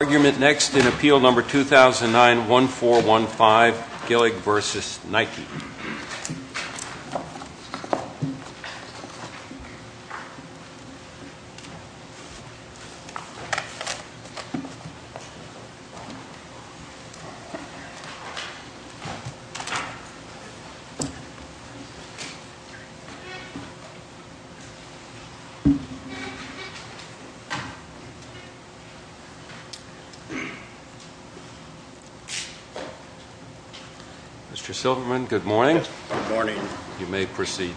argument next in appeal number two thousand nine one four one five Gillig vs Nike Mr. Silverman, good morning. Good morning. You may proceed.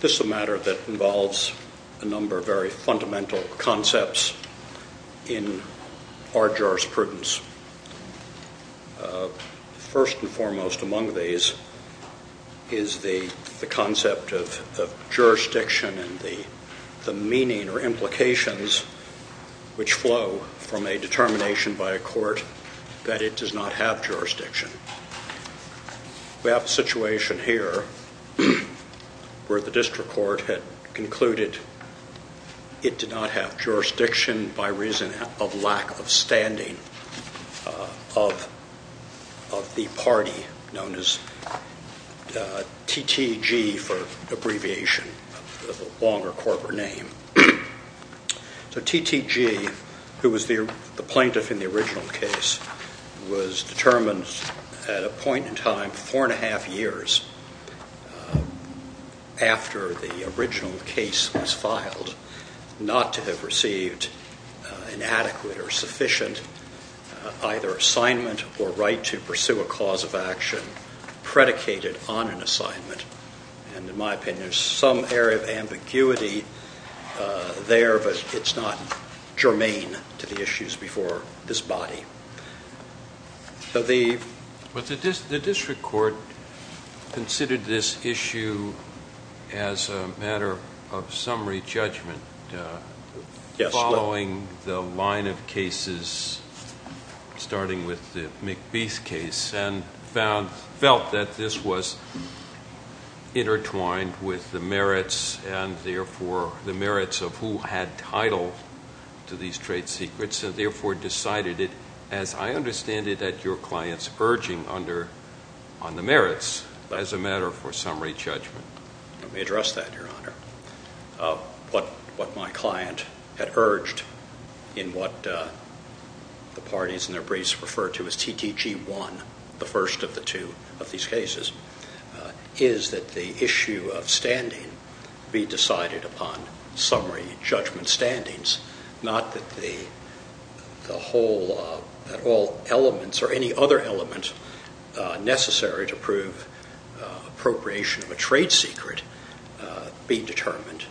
This is a matter that involves a number of very fundamental concepts in Arjar's prudence. First and foremost among these is the concept of jurisdiction and the meaning or implications which flow from a determination by a court that it does not have jurisdiction. We have a situation here where the district court had concluded it did not have jurisdiction by reason of lack of standing of the party known as TTG for abbreviation, a longer corporate name. So TTG, who was the plaintiff in the original case, was determined at a point in time, four and a half years after the original case was filed, not to have received an adequate or sufficient either assignment or right to pursue a cause of action predicated on an assignment. And in my opinion, there's some area of ambiguity there, but it's not germane to the issues before this body. The district court considered this issue as a matter of summary judgment following the line of cases starting with the McBee's case and felt that this was intertwined with the merits and therefore the merits of who had title to these trade secrets and therefore decided it, as I understand it, at your client's urging on the merits as a matter for summary judgment. Let me address that, Your Honor. What my client had urged in what the parties in their briefs referred to as TTG 1, the first of the two of these cases, is that the issue of standing be decided upon summary judgment standings, not that all elements or any other element necessary to prove appropriation of a trade secret be determined.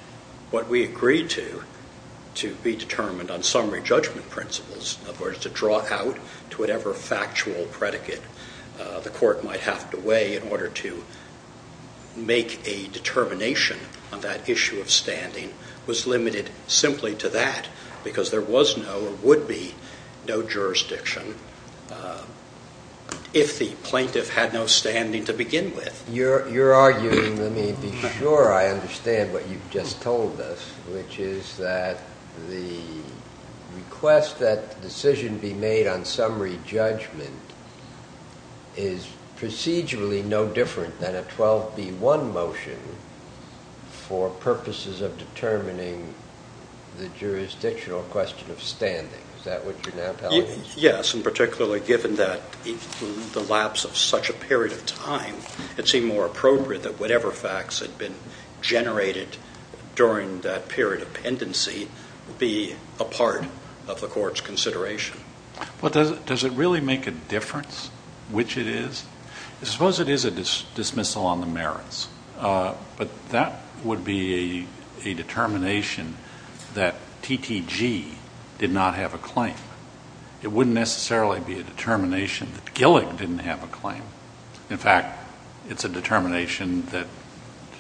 What we agreed to, to be determined on summary judgment principles, in other words, to draw out to whatever factual predicate the court might have to weigh in order to make a determination on that issue of standing, was limited simply to that because there was no or would be no jurisdiction if the plaintiff had no standing to begin with. You're arguing, let me be sure I understand what you've just told us, which is that the request that the decision be made on summary judgment is procedurally no different than a 12B1 motion for purposes of determining the jurisdictional question of standing. Is that what you're now telling us? Yes, and particularly given that the lapse of such a period of time, it seemed more appropriate that whatever facts had been generated during that period of pendency be a part of the court's consideration. But does it really make a difference which it is? Suppose it is a dismissal on the merits, but that would be a determination that TTG did not have a claim. It wouldn't necessarily be a determination that Gillick didn't have a claim. In fact, it's a determination that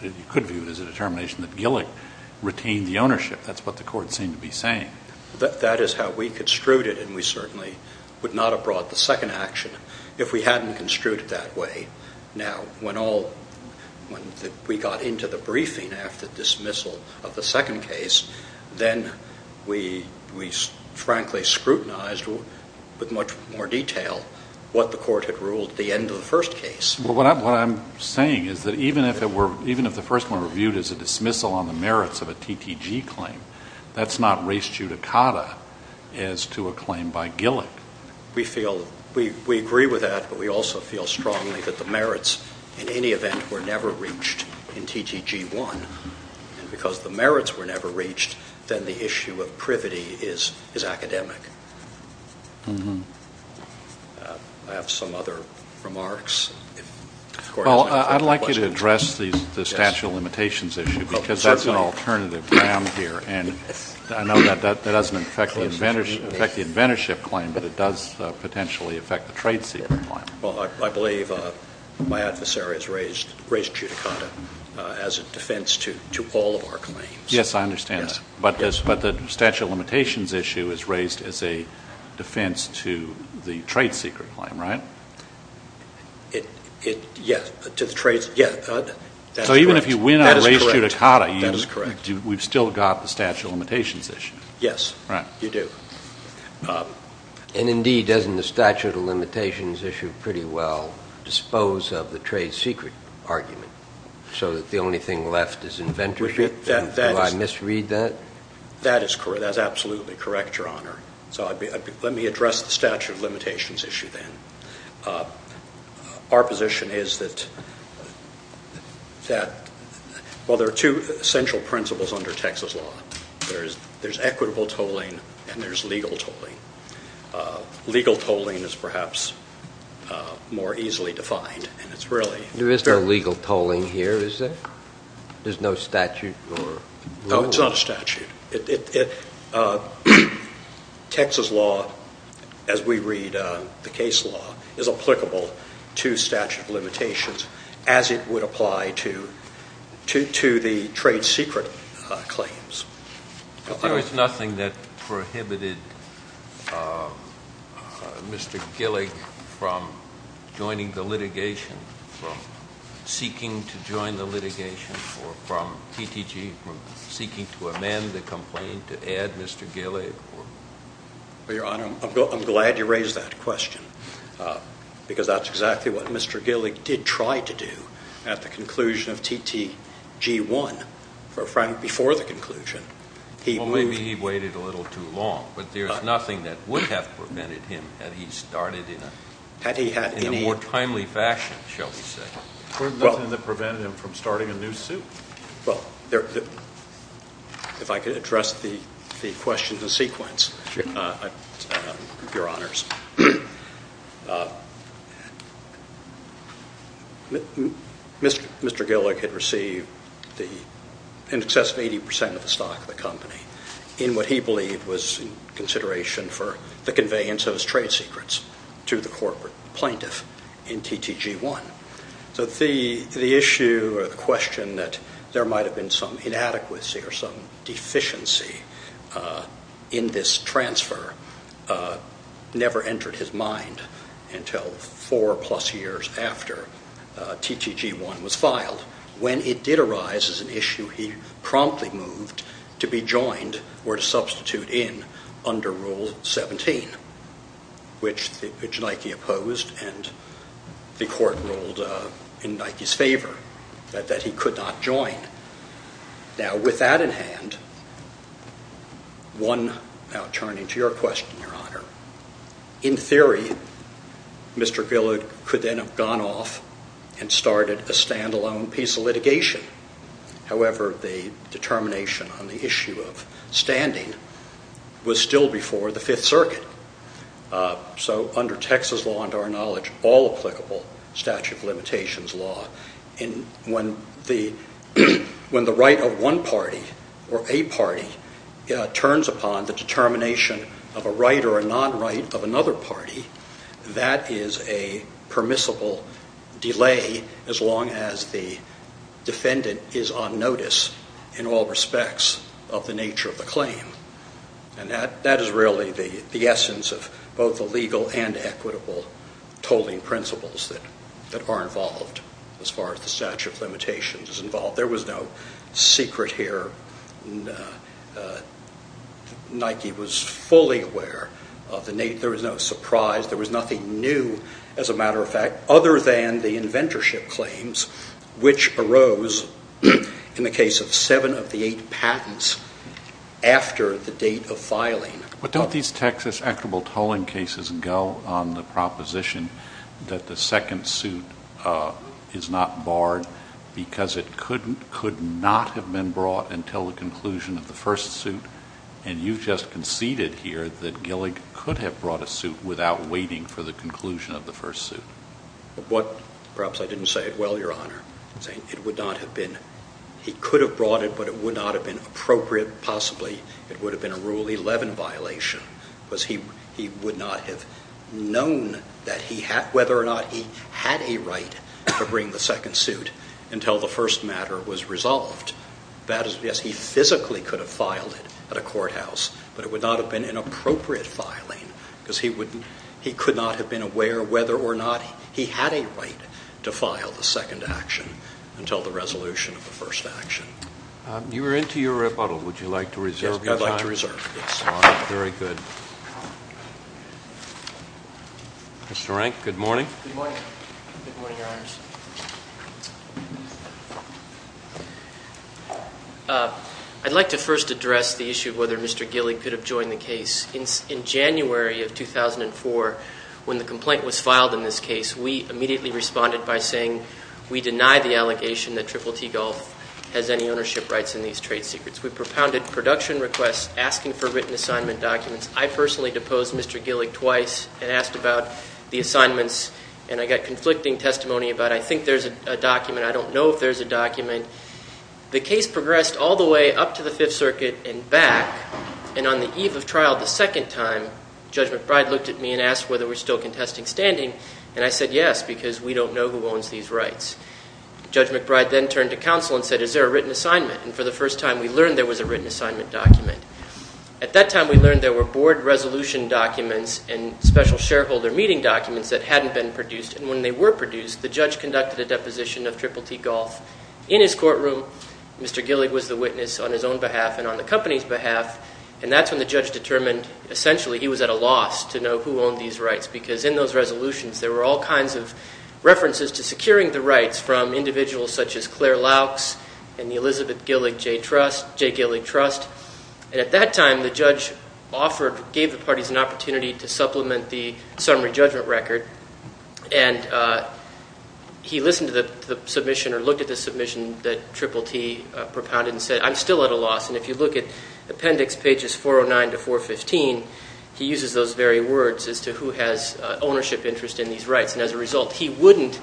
you could view as a determination that Gillick retained the ownership. That's what the court seemed to be saying. That is how we construed it, and we certainly would not have brought the second action if we hadn't construed it that way. Now, when we got into the briefing after dismissal of the second case, then we frankly scrutinized with much more detail what the court had ruled at the end of the first case. What I'm saying is that even if the first one were viewed as a dismissal on the merits of a TTG claim, that's not res judicata as to a claim by Gillick. We agree with that, but we also feel strongly that the merits, in any event, were never reached in TTG1. And because the merits were never reached, then the issue of privity is academic. I have some other remarks. Well, I'd like you to address the statute of limitations issue because that's an alternative ground here, and I know that doesn't affect the inventorship claim, but it does potentially affect the trade secret claim. Well, I believe my adversary has raised res judicata as a defense to all of our claims. Yes, I understand that. But the statute of limitations issue is raised as a defense to the trade secret claim, right? Yes, to the trade secret. Yes, that's correct. So even if you win on res judicata, we've still got the statute of limitations issue. Yes, you do. And, indeed, doesn't the statute of limitations issue pretty well dispose of the trade secret argument so that the only thing left is inventorship? Do I misread that? That is absolutely correct, Your Honor. So let me address the statute of limitations issue then. Our position is that, well, there are two essential principles under Texas law. There's equitable tolling and there's legal tolling. Legal tolling is perhaps more easily defined. There is no legal tolling here, is there? There's no statute? No, it's not a statute. Texas law, as we read the case law, is applicable to statute of limitations as it would apply to the trade secret claims. But there is nothing that prohibited Mr. Gillick from joining the litigation, from seeking to join the litigation, or from TTG seeking to amend the complaint to add Mr. Gillick? Well, Your Honor, I'm glad you raised that question because that's exactly what Mr. Gillick did try to do at the conclusion of TTG 1. Before the conclusion, he moved. Well, maybe he waited a little too long, but there's nothing that would have prevented him had he started in a more timely fashion, shall we say. There's nothing that prevented him from starting a new suit? Well, if I could address the question in sequence, Your Honors. Mr. Gillick had received in excess of 80 percent of the stock of the company in what he believed was in consideration for the conveyance of his trade secrets to the corporate plaintiff in TTG 1. So the issue or the question that there might have been some inadequacy or some deficiency in this transfer never entered his mind until four-plus years after TTG 1 was filed. When it did arise as an issue, he promptly moved to be joined or to substitute in under Rule 17, which Nike opposed and the court ruled in Nike's favor that he could not join. Now, with that in hand, one, now turning to your question, Your Honor, in theory, Mr. Gillick could then have gone off and started a stand-alone piece of litigation. However, the determination on the issue of standing was still before the Fifth Circuit. So under Texas law and our knowledge, all applicable statute of limitations law, when the right of one party or a party turns upon the determination of a right or a non-right of another party, that is a permissible delay as long as the defendant is on notice in all respects of the nature of the claim. And that is really the essence of both the legal and equitable tolling principles that are involved as far as the statute of limitations is involved. There was no secret here. Nike was fully aware of the need. There was no surprise. There was nothing new, as a matter of fact, other than the inventorship claims, which arose in the case of seven of the eight patents after the date of filing. But don't these Texas equitable tolling cases go on the proposition that the second suit is not barred because it could not have been brought until the conclusion of the first suit? And you've just conceded here that Gillick could have brought a suit without waiting for the conclusion of the first suit. Perhaps I didn't say it well, Your Honor. I'm saying he could have brought it, but it would not have been appropriate. Possibly it would have been a Rule 11 violation because he would not have known whether or not he had a right to bring the second suit until the first matter was resolved. Yes, he physically could have filed it at a courthouse, but it would not have been an appropriate filing because he could not have been aware whether or not he had a right to file the second action until the resolution of the first action. You are into your rebuttal. Would you like to reserve your time? Yes, I'd like to reserve it. All right. Very good. Mr. Rank, good morning. Good morning. Good morning, Your Honors. I'd like to first address the issue of whether Mr. Gillick could have joined the case. In January of 2004, when the complaint was filed in this case, we immediately responded by saying we deny the allegation that Triple T Gulf has any ownership rights in these trade secrets. We propounded production requests asking for written assignment documents. I personally deposed Mr. Gillick twice and asked about the assignments, and I got conflicting testimony about I think there's a document, I don't know if there's a document. The case progressed all the way up to the Fifth Circuit and back, and on the eve of trial the second time, Judge McBride looked at me and asked whether we're still contesting standing, and I said yes, because we don't know who owns these rights. Judge McBride then turned to counsel and said is there a written assignment, and for the first time we learned there was a written assignment document. At that time we learned there were board resolution documents and special shareholder meeting documents that hadn't been produced, and when they were produced, the judge conducted a deposition of Triple T Gulf. In his courtroom, Mr. Gillick was the witness on his own behalf and on the company's behalf, and that's when the judge determined essentially he was at a loss to know who owned these rights, because in those resolutions there were all kinds of references to securing the rights from individuals such as Claire Laux and the Elizabeth Gillick J. Gillick Trust. At that time the judge gave the parties an opportunity to supplement the summary judgment record, and he listened to the submission or looked at the submission that Triple T propounded and said I'm still at a loss, and if you look at appendix pages 409 to 415, he uses those very words as to who has ownership interest in these rights, and as a result he wouldn't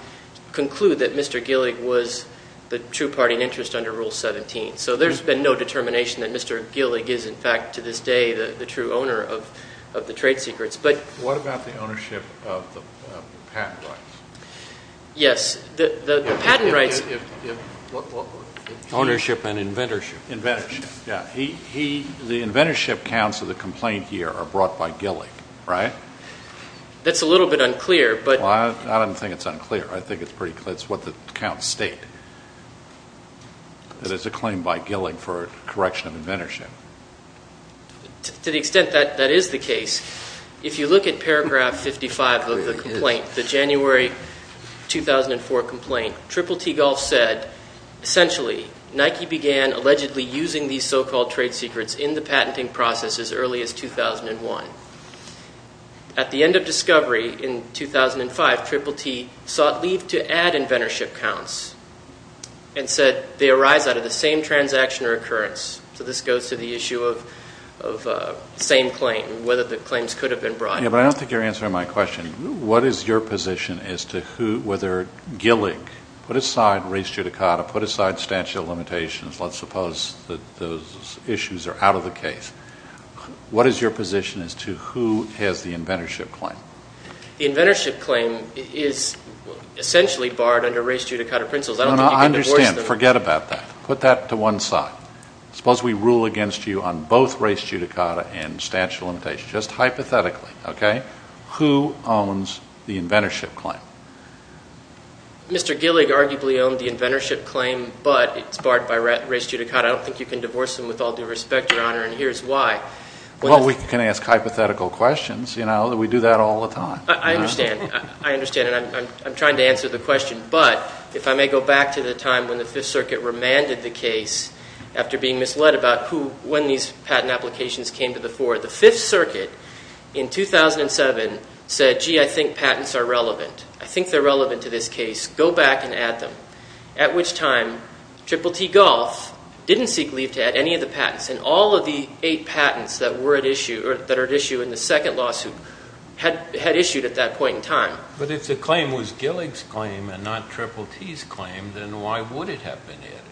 conclude that Mr. Gillick was the true party in interest under Rule 17. So there's been no determination that Mr. Gillick is in fact to this day the true owner of the trade secrets. What about the ownership of the patent rights? Yes, the patent rights. Ownership and inventorship. Inventorship, yeah. The inventorship counts of the complaint here are brought by Gillick, right? That's a little bit unclear. Well, I don't think it's unclear. I think it's what the counts state, that it's a claim by Gillick for correction of inventorship. To the extent that that is the case, if you look at paragraph 55 of the complaint, the January 2004 complaint, Triple T Golf said, essentially Nike began allegedly using these so-called trade secrets in the patenting process as early as 2001. At the end of discovery in 2005, Triple T sought leave to add inventorship counts and said they arise out of the same transaction or occurrence. So this goes to the issue of same claim, whether the claims could have been brought. Yeah, but I don't think you're answering my question. What is your position as to whether Gillick put aside race judicata, put aside statute of limitations, let's suppose that those issues are out of the case. What is your position as to who has the inventorship claim? The inventorship claim is essentially barred under race judicata principles. I don't think you can divorce them. I understand. Forget about that. Put that to one side. Suppose we rule against you on both race judicata and statute of limitations, just hypothetically, okay? Who owns the inventorship claim? Mr. Gillick arguably owned the inventorship claim, but it's barred by race judicata. I don't think you can divorce them with all due respect, Your Honor, and here's why. Well, we can ask hypothetical questions, you know. We do that all the time. I understand. I understand, and I'm trying to answer the question. But if I may go back to the time when the Fifth Circuit remanded the case after being misled about who, when these patent applications came to the fore, the Fifth Circuit in 2007 said, gee, I think patents are relevant. I think they're relevant to this case. Go back and add them. At which time, Triple T Golf didn't seek leave to add any of the patents, and all of the eight patents that were at issue or that are at issue in the second lawsuit had issued at that point in time. But if the claim was Gillick's claim and not Triple T's claim, then why would it have been added?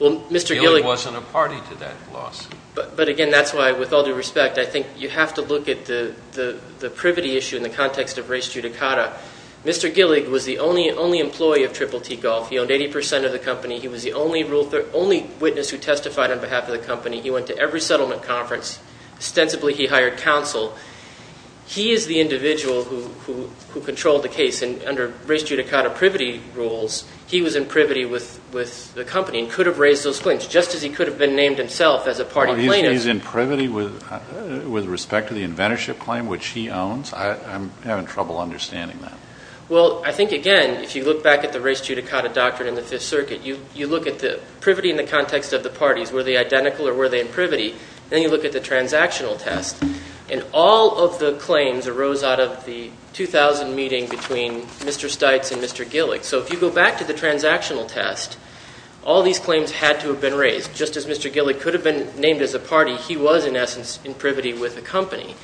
Gillick wasn't a party to that loss. But, again, that's why, with all due respect, I think you have to look at the privity issue in the context of race judicata. Mr. Gillick was the only employee of Triple T Golf. He owned 80% of the company. He was the only witness who testified on behalf of the company. He went to every settlement conference. Extensively, he hired counsel. He is the individual who controlled the case, and under race judicata privity rules, he was in privity with the company and could have raised those claims, just as he could have been named himself as a party plaintiff. He's in privity with respect to the inventorship claim, which he owns? I'm having trouble understanding that. Well, I think, again, if you look back at the race judicata doctrine in the Fifth Circuit, you look at the privity in the context of the parties. Were they identical or were they in privity? Then you look at the transactional test, and all of the claims arose out of the 2000 meeting between Mr. Stites and Mr. Gillick. So if you go back to the transactional test, all these claims had to have been raised. Just as Mr. Gillick could have been named as a party, he was, in essence, in privity with the company,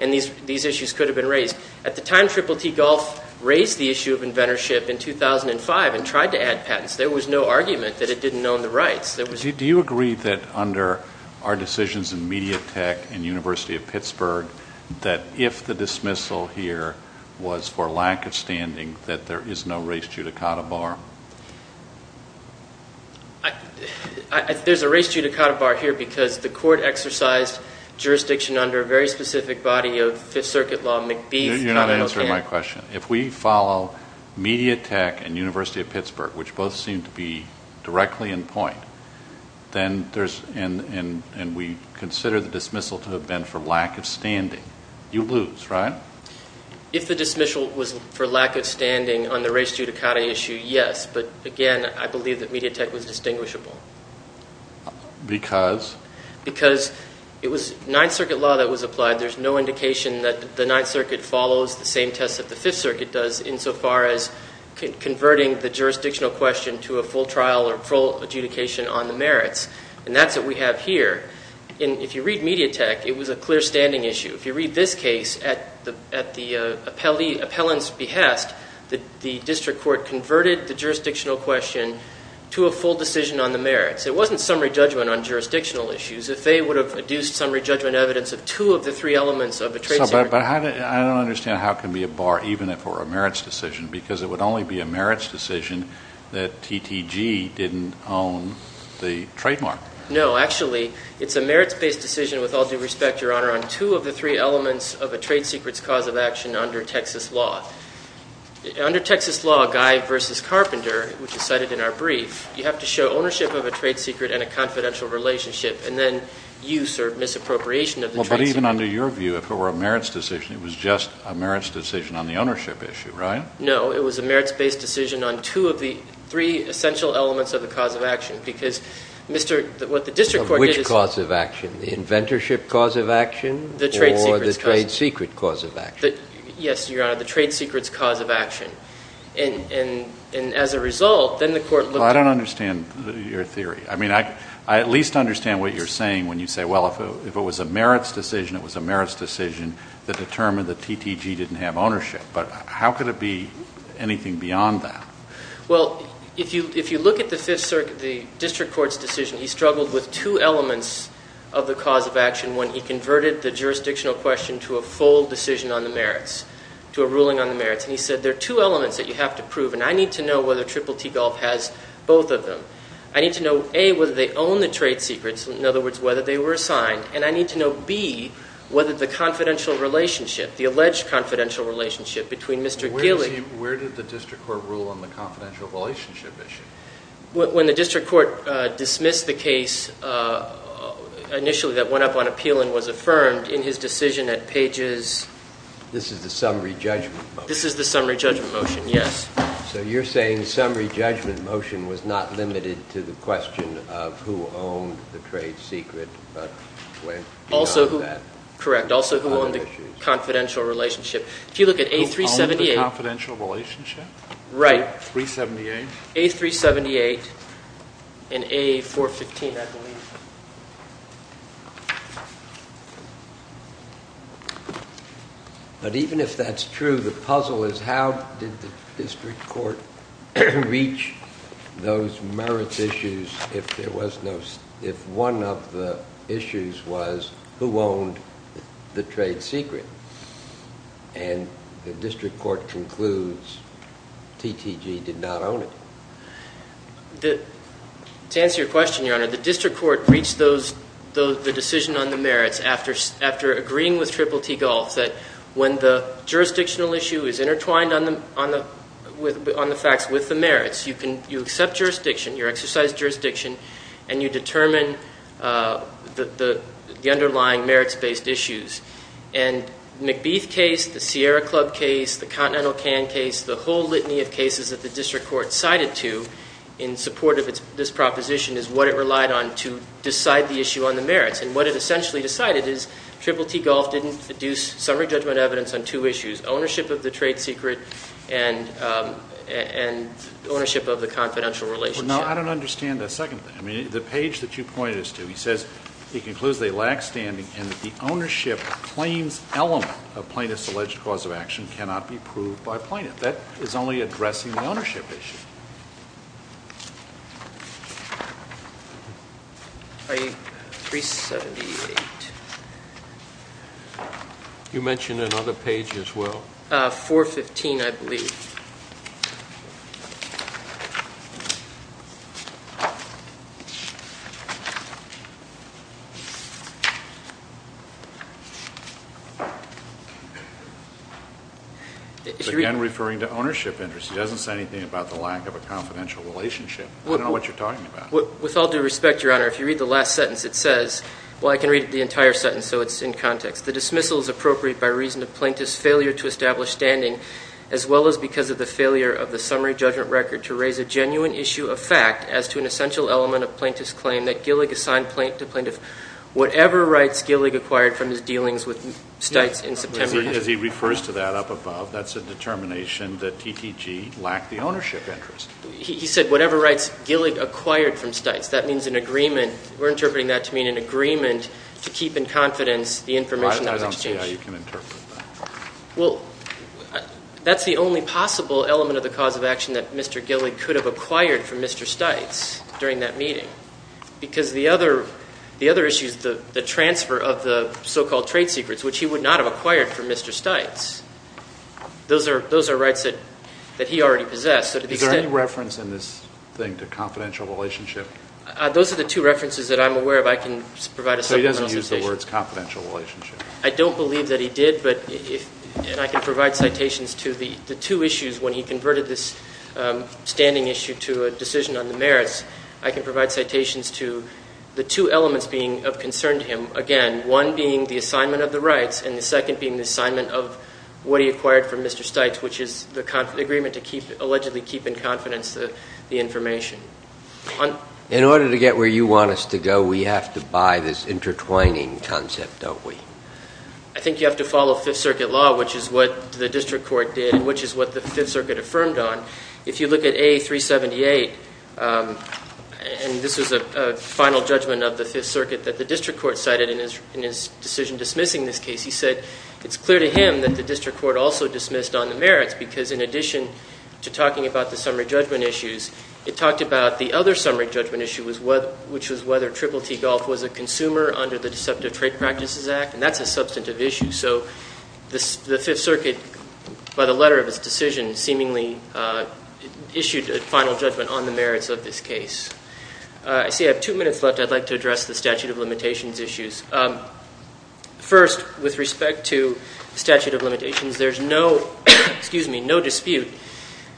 and these issues could have been raised. At the time, Triple T Golf raised the issue of inventorship in 2005 and tried to add patents. There was no argument that it didn't own the rights. Do you agree that under our decisions in Mediatek and University of Pittsburgh, that if the dismissal here was for lack of standing, that there is no race judicata bar? There's a race judicata bar here because the court exercised jurisdiction under a very specific body of Fifth Circuit law. You're not answering my question. If we follow Mediatek and University of Pittsburgh, which both seem to be directly in point, and we consider the dismissal to have been for lack of standing, you lose, right? If the dismissal was for lack of standing on the race judicata issue, yes. But, again, I believe that Mediatek was distinguishable. Because? Because it was Ninth Circuit law that was applied. There's no indication that the Ninth Circuit follows the same tests that the Fifth Circuit does insofar as converting the jurisdictional question to a full trial or full adjudication on the merits. And that's what we have here. If you read Mediatek, it was a clear-standing issue. If you read this case, at the appellant's behest, the district court converted the jurisdictional question to a full decision on the merits. It wasn't summary judgment on jurisdictional issues. If they would have adduced summary judgment evidence of two of the three elements of the tracing… But I don't understand how it can be a bar, even if it were a merits decision, because it would only be a merits decision that TTG didn't own the trademark. No. Actually, it's a merits-based decision, with all due respect, Your Honor, on two of the three elements of a trade secret's cause of action under Texas law. Under Texas law, Guy v. Carpenter, which is cited in our brief, you have to show ownership of a trade secret and a confidential relationship, and then use or misappropriation of the trade secret. But even under your view, if it were a merits decision, it was just a merits decision on the ownership issue, right? No. It was a merits-based decision on two of the three essential elements of the cause of action, because what the district court did is… Which cause of action? The inventorship cause of action or the trade secret cause of action? Yes, Your Honor, the trade secret's cause of action. And as a result, then the court looked at… Well, I don't understand your theory. I mean, I at least understand what you're saying when you say, well, if it was a merits decision, it was a merits decision that determined that TTG didn't have ownership. But how could it be anything beyond that? Well, if you look at the district court's decision, he struggled with two elements of the cause of action when he converted the jurisdictional question to a full decision on the merits, to a ruling on the merits. And he said there are two elements that you have to prove, and I need to know whether Triple T Gulf has both of them. I need to know, A, whether they own the trade secrets, in other words, whether they were assigned, and I need to know, B, whether the confidential relationship, the alleged confidential relationship between Mr. Gilly… Where did the district court rule on the confidential relationship issue? When the district court dismissed the case initially that went up on appeal and was affirmed in his decision at pages… This is the summary judgment motion? This is the summary judgment motion, yes. So you're saying the summary judgment motion was not limited to the question of who owned the trade secret but went beyond that? Correct, also who owned the confidential relationship. If you look at A378… Who owned the confidential relationship? Right. A378? A378 and A415, I believe. But even if that's true, the puzzle is how did the district court reach those merits issues if one of the issues was who owned the trade secret? And the district court concludes TTG did not own it. The district court reached the decision on the merits after agreeing with TTTG that when the jurisdictional issue is intertwined on the facts with the merits, you accept jurisdiction, you exercise jurisdiction, and you determine the underlying merits-based issues. And McBeath case, the Sierra Club case, the Continental Can case, the whole litany of cases that the district court cited to in support of this proposition is what it relied on to decide the issue on the merits. And what it essentially decided is TTTG didn't deduce summary judgment evidence on two issues, ownership of the trade secret and ownership of the confidential relationship. Now, I don't understand that second thing. I mean, the page that you pointed us to, it concludes they lack standing and that the ownership claims element of plaintiff's alleged cause of action cannot be proved by plaintiff. That is only addressing the ownership issue. 378. You mentioned another page as well. 415, I believe. Again, referring to ownership interest. It doesn't say anything about the lack of a confidential relationship. I don't know what you're talking about. With all due respect, Your Honor, if you read the last sentence, it says, well, I can read the entire sentence so it's in context. The dismissal is appropriate by reason of plaintiff's failure to establish standing as well as because of the failure of the summary judgment record to raise a genuine issue of fact as to an essential element of plaintiff's claim that Gillig assigned plaintiff whatever rights Gillig acquired from his dealings with Stites in September. As he refers to that up above, that's a determination that TTG lacked the ownership interest. He said whatever rights Gillig acquired from Stites. That means an agreement. We're interpreting that to mean an agreement to keep in confidence the information that was exchanged. I don't see how you can interpret that. Well, that's the only possible element of the cause of action that Mr. Gillig could have acquired from Mr. Stites during that meeting because the other issue is the transfer of the so-called trade secrets, which he would not have acquired from Mr. Stites. Those are rights that he already possessed. Is there any reference in this thing to confidential relationship? Those are the two references that I'm aware of. I can provide a separate presentation. So he doesn't use the words confidential relationship? I don't believe that he did, and I can provide citations to the two issues when he converted this standing issue to a decision on the merits. I can provide citations to the two elements being of concern to him. Again, one being the assignment of the rights and the second being the assignment of what he acquired from Mr. Stites, which is the agreement to allegedly keep in confidence the information. In order to get where you want us to go, we have to buy this intertwining concept, don't we? I think you have to follow Fifth Circuit law, which is what the district court did and which is what the Fifth Circuit affirmed on. If you look at A378, and this was a final judgment of the Fifth Circuit that the district court cited in his decision dismissing this case, he said it's clear to him that the district court also dismissed on the merits because in addition to talking about the summary judgment issues, it talked about the other summary judgment issue, which was whether Triple T Golf was a consumer under the Deceptive Trade Practices Act, and that's a substantive issue. So the Fifth Circuit, by the letter of his decision, seemingly issued a final judgment on the merits of this case. I see I have two minutes left. I'd like to address the statute of limitations issues. First, with respect to statute of limitations, there's no dispute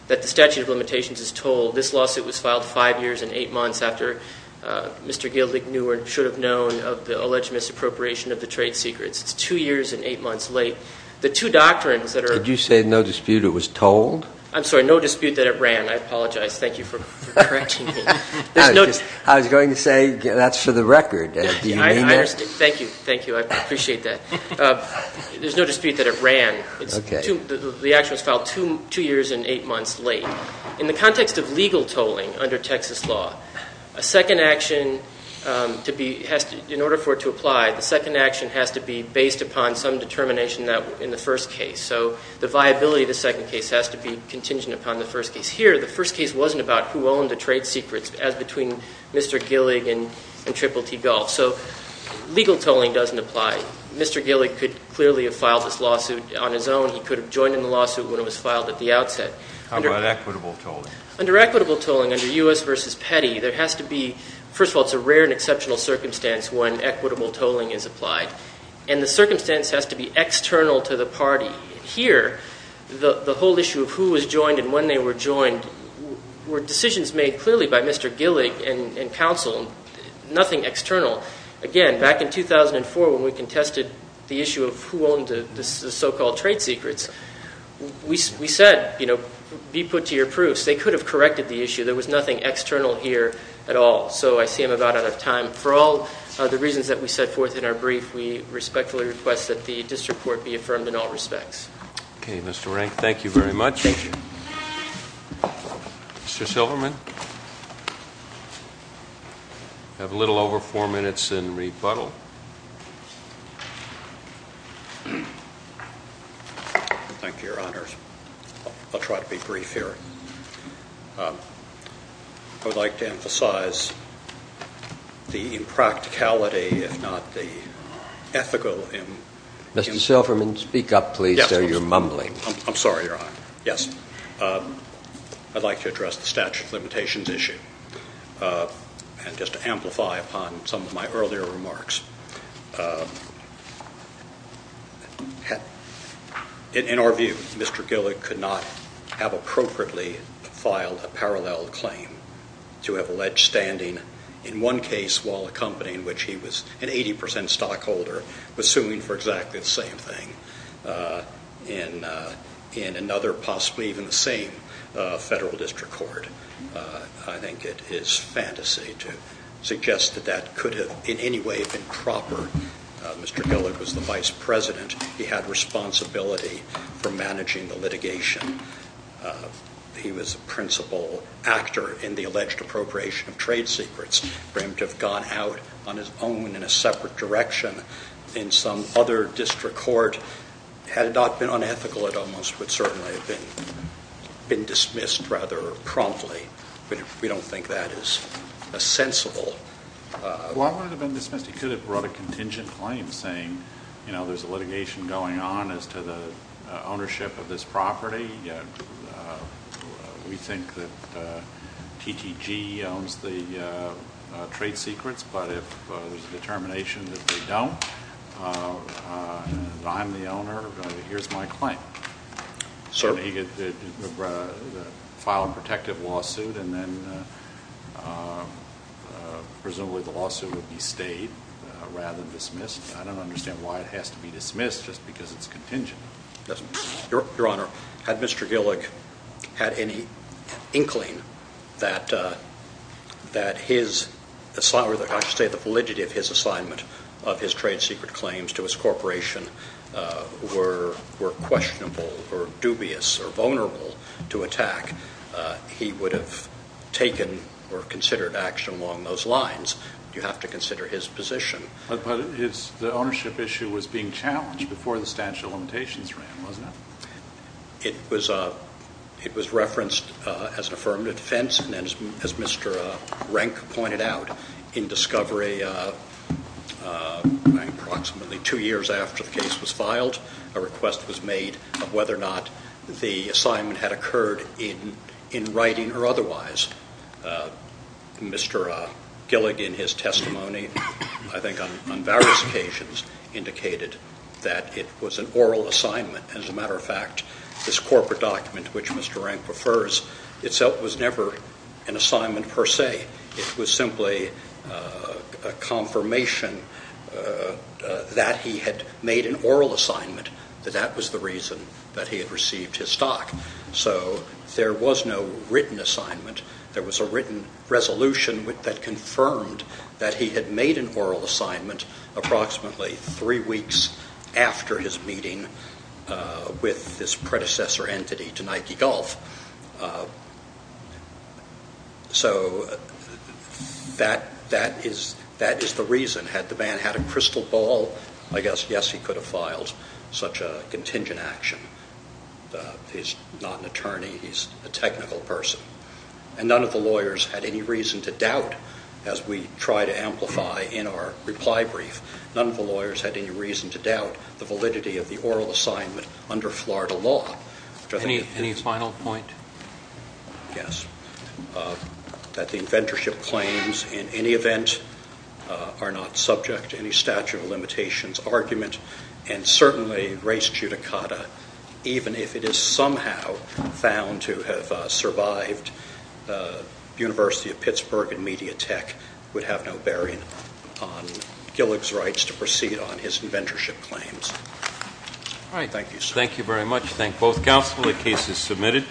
that the statute of limitations is told. This lawsuit was filed five years and eight months after Mr. Gildick knew or should have known of the alleged misappropriation of the trade secrets. It's two years and eight months late. The two doctrines that are ---- Did you say no dispute it was told? I'm sorry, no dispute that it ran. I apologize. Thank you for correcting me. I was going to say that's for the record. Do you mean that? Thank you. Thank you. I appreciate that. There's no dispute that it ran. The action was filed two years and eight months late. In the context of legal tolling under Texas law, a second action in order for it to apply, the second action has to be based upon some determination in the first case. So the viability of the second case has to be contingent upon the first case. Here, the first case wasn't about who owned the trade secrets, as between Mr. Gildick and Triple T Gulf. So legal tolling doesn't apply. Mr. Gildick could clearly have filed this lawsuit on his own. He could have joined in the lawsuit when it was filed at the outset. How about equitable tolling? Under equitable tolling, under U.S. v. Petty, there has to be – first of all, it's a rare and exceptional circumstance when equitable tolling is applied. And the circumstance has to be external to the party. Here, the whole issue of who was joined and when they were joined were decisions made clearly by Mr. Gildick and counsel, nothing external. Again, back in 2004 when we contested the issue of who owned the so-called trade secrets, we said, you know, be put to your proofs. They could have corrected the issue. There was nothing external here at all. So I see I'm about out of time. For all the reasons that we set forth in our brief, we respectfully request that the district court be affirmed in all respects. Okay, Mr. Rank, thank you very much. Mr. Silverman? We have a little over four minutes in rebuttal. Thank you, Your Honors. I'll try to be brief here. I would like to emphasize the impracticality, if not the ethical – Mr. Silverman, speak up, please, or you're mumbling. I'm sorry, Your Honor. Yes. I'd like to address the statute of limitations issue and just to amplify upon some of my earlier remarks. In our view, Mr. Gildick could not have appropriately filed a parallel claim to have alleged standing in one case while a company in which he was an 80% stockholder was suing for exactly the same thing in another, possibly even the same federal district court. I think it is fantasy to suggest that that could have in any way been proper. Mr. Gildick was the vice president. He had responsibility for managing the litigation. He was a principal actor in the alleged appropriation of trade secrets. For him to have gone out on his own in a separate direction in some other district court, had it not been unethical, it almost would certainly have been dismissed rather promptly. We don't think that is a sensible – Well, it wouldn't have been dismissed. He could have brought a contingent claim saying, you know, there's a litigation going on as to the ownership of this property. We think that TTG owns the trade secrets, but if there's a determination that they don't, and I'm the owner, here's my claim. Certainly he could have filed a protective lawsuit and then presumably the lawsuit would be stayed rather than dismissed. I don't understand why it has to be dismissed just because it's contingent. Your Honor, had Mr. Gildick had any inkling that his – I should say the validity of his assignment of his trade secret claims to his corporation were questionable or dubious or vulnerable to attack, he would have taken or considered action along those lines. You have to consider his position. But the ownership issue was being challenged before the statute of limitations ran, wasn't it? It was referenced as an affirmative defense, and as Mr. Rank pointed out, in discovery approximately two years after the case was filed, a request was made of whether or not the assignment had occurred in writing or otherwise. Mr. Gildick in his testimony, I think on various occasions, indicated that it was an oral assignment. As a matter of fact, this corporate document, which Mr. Rank prefers, itself was never an assignment per se. It was simply a confirmation that he had made an oral assignment, that that was the reason that he had received his stock. So there was no written assignment. There was a written resolution that confirmed that he had made an oral assignment approximately three weeks after his meeting with this predecessor entity to Nike Golf. So that is the reason. Had the man had a crystal ball, I guess, yes, he could have filed such a contingent action. He's not an attorney. He's a technical person. And none of the lawyers had any reason to doubt, as we try to amplify in our reply brief, none of the lawyers had any reason to doubt the validity of the oral assignment under Florida law. Any final point? Yes. That the inventorship claims, in any event, are not subject to any statute of limitations argument, and certainly race judicata, even if it is somehow found to have survived University of Pittsburgh and Media Tech, would have no bearing on Gillig's rights to proceed on his inventorship claims. All right. Thank you, sir. Thank you very much. Thank both counsel. The case is submitted.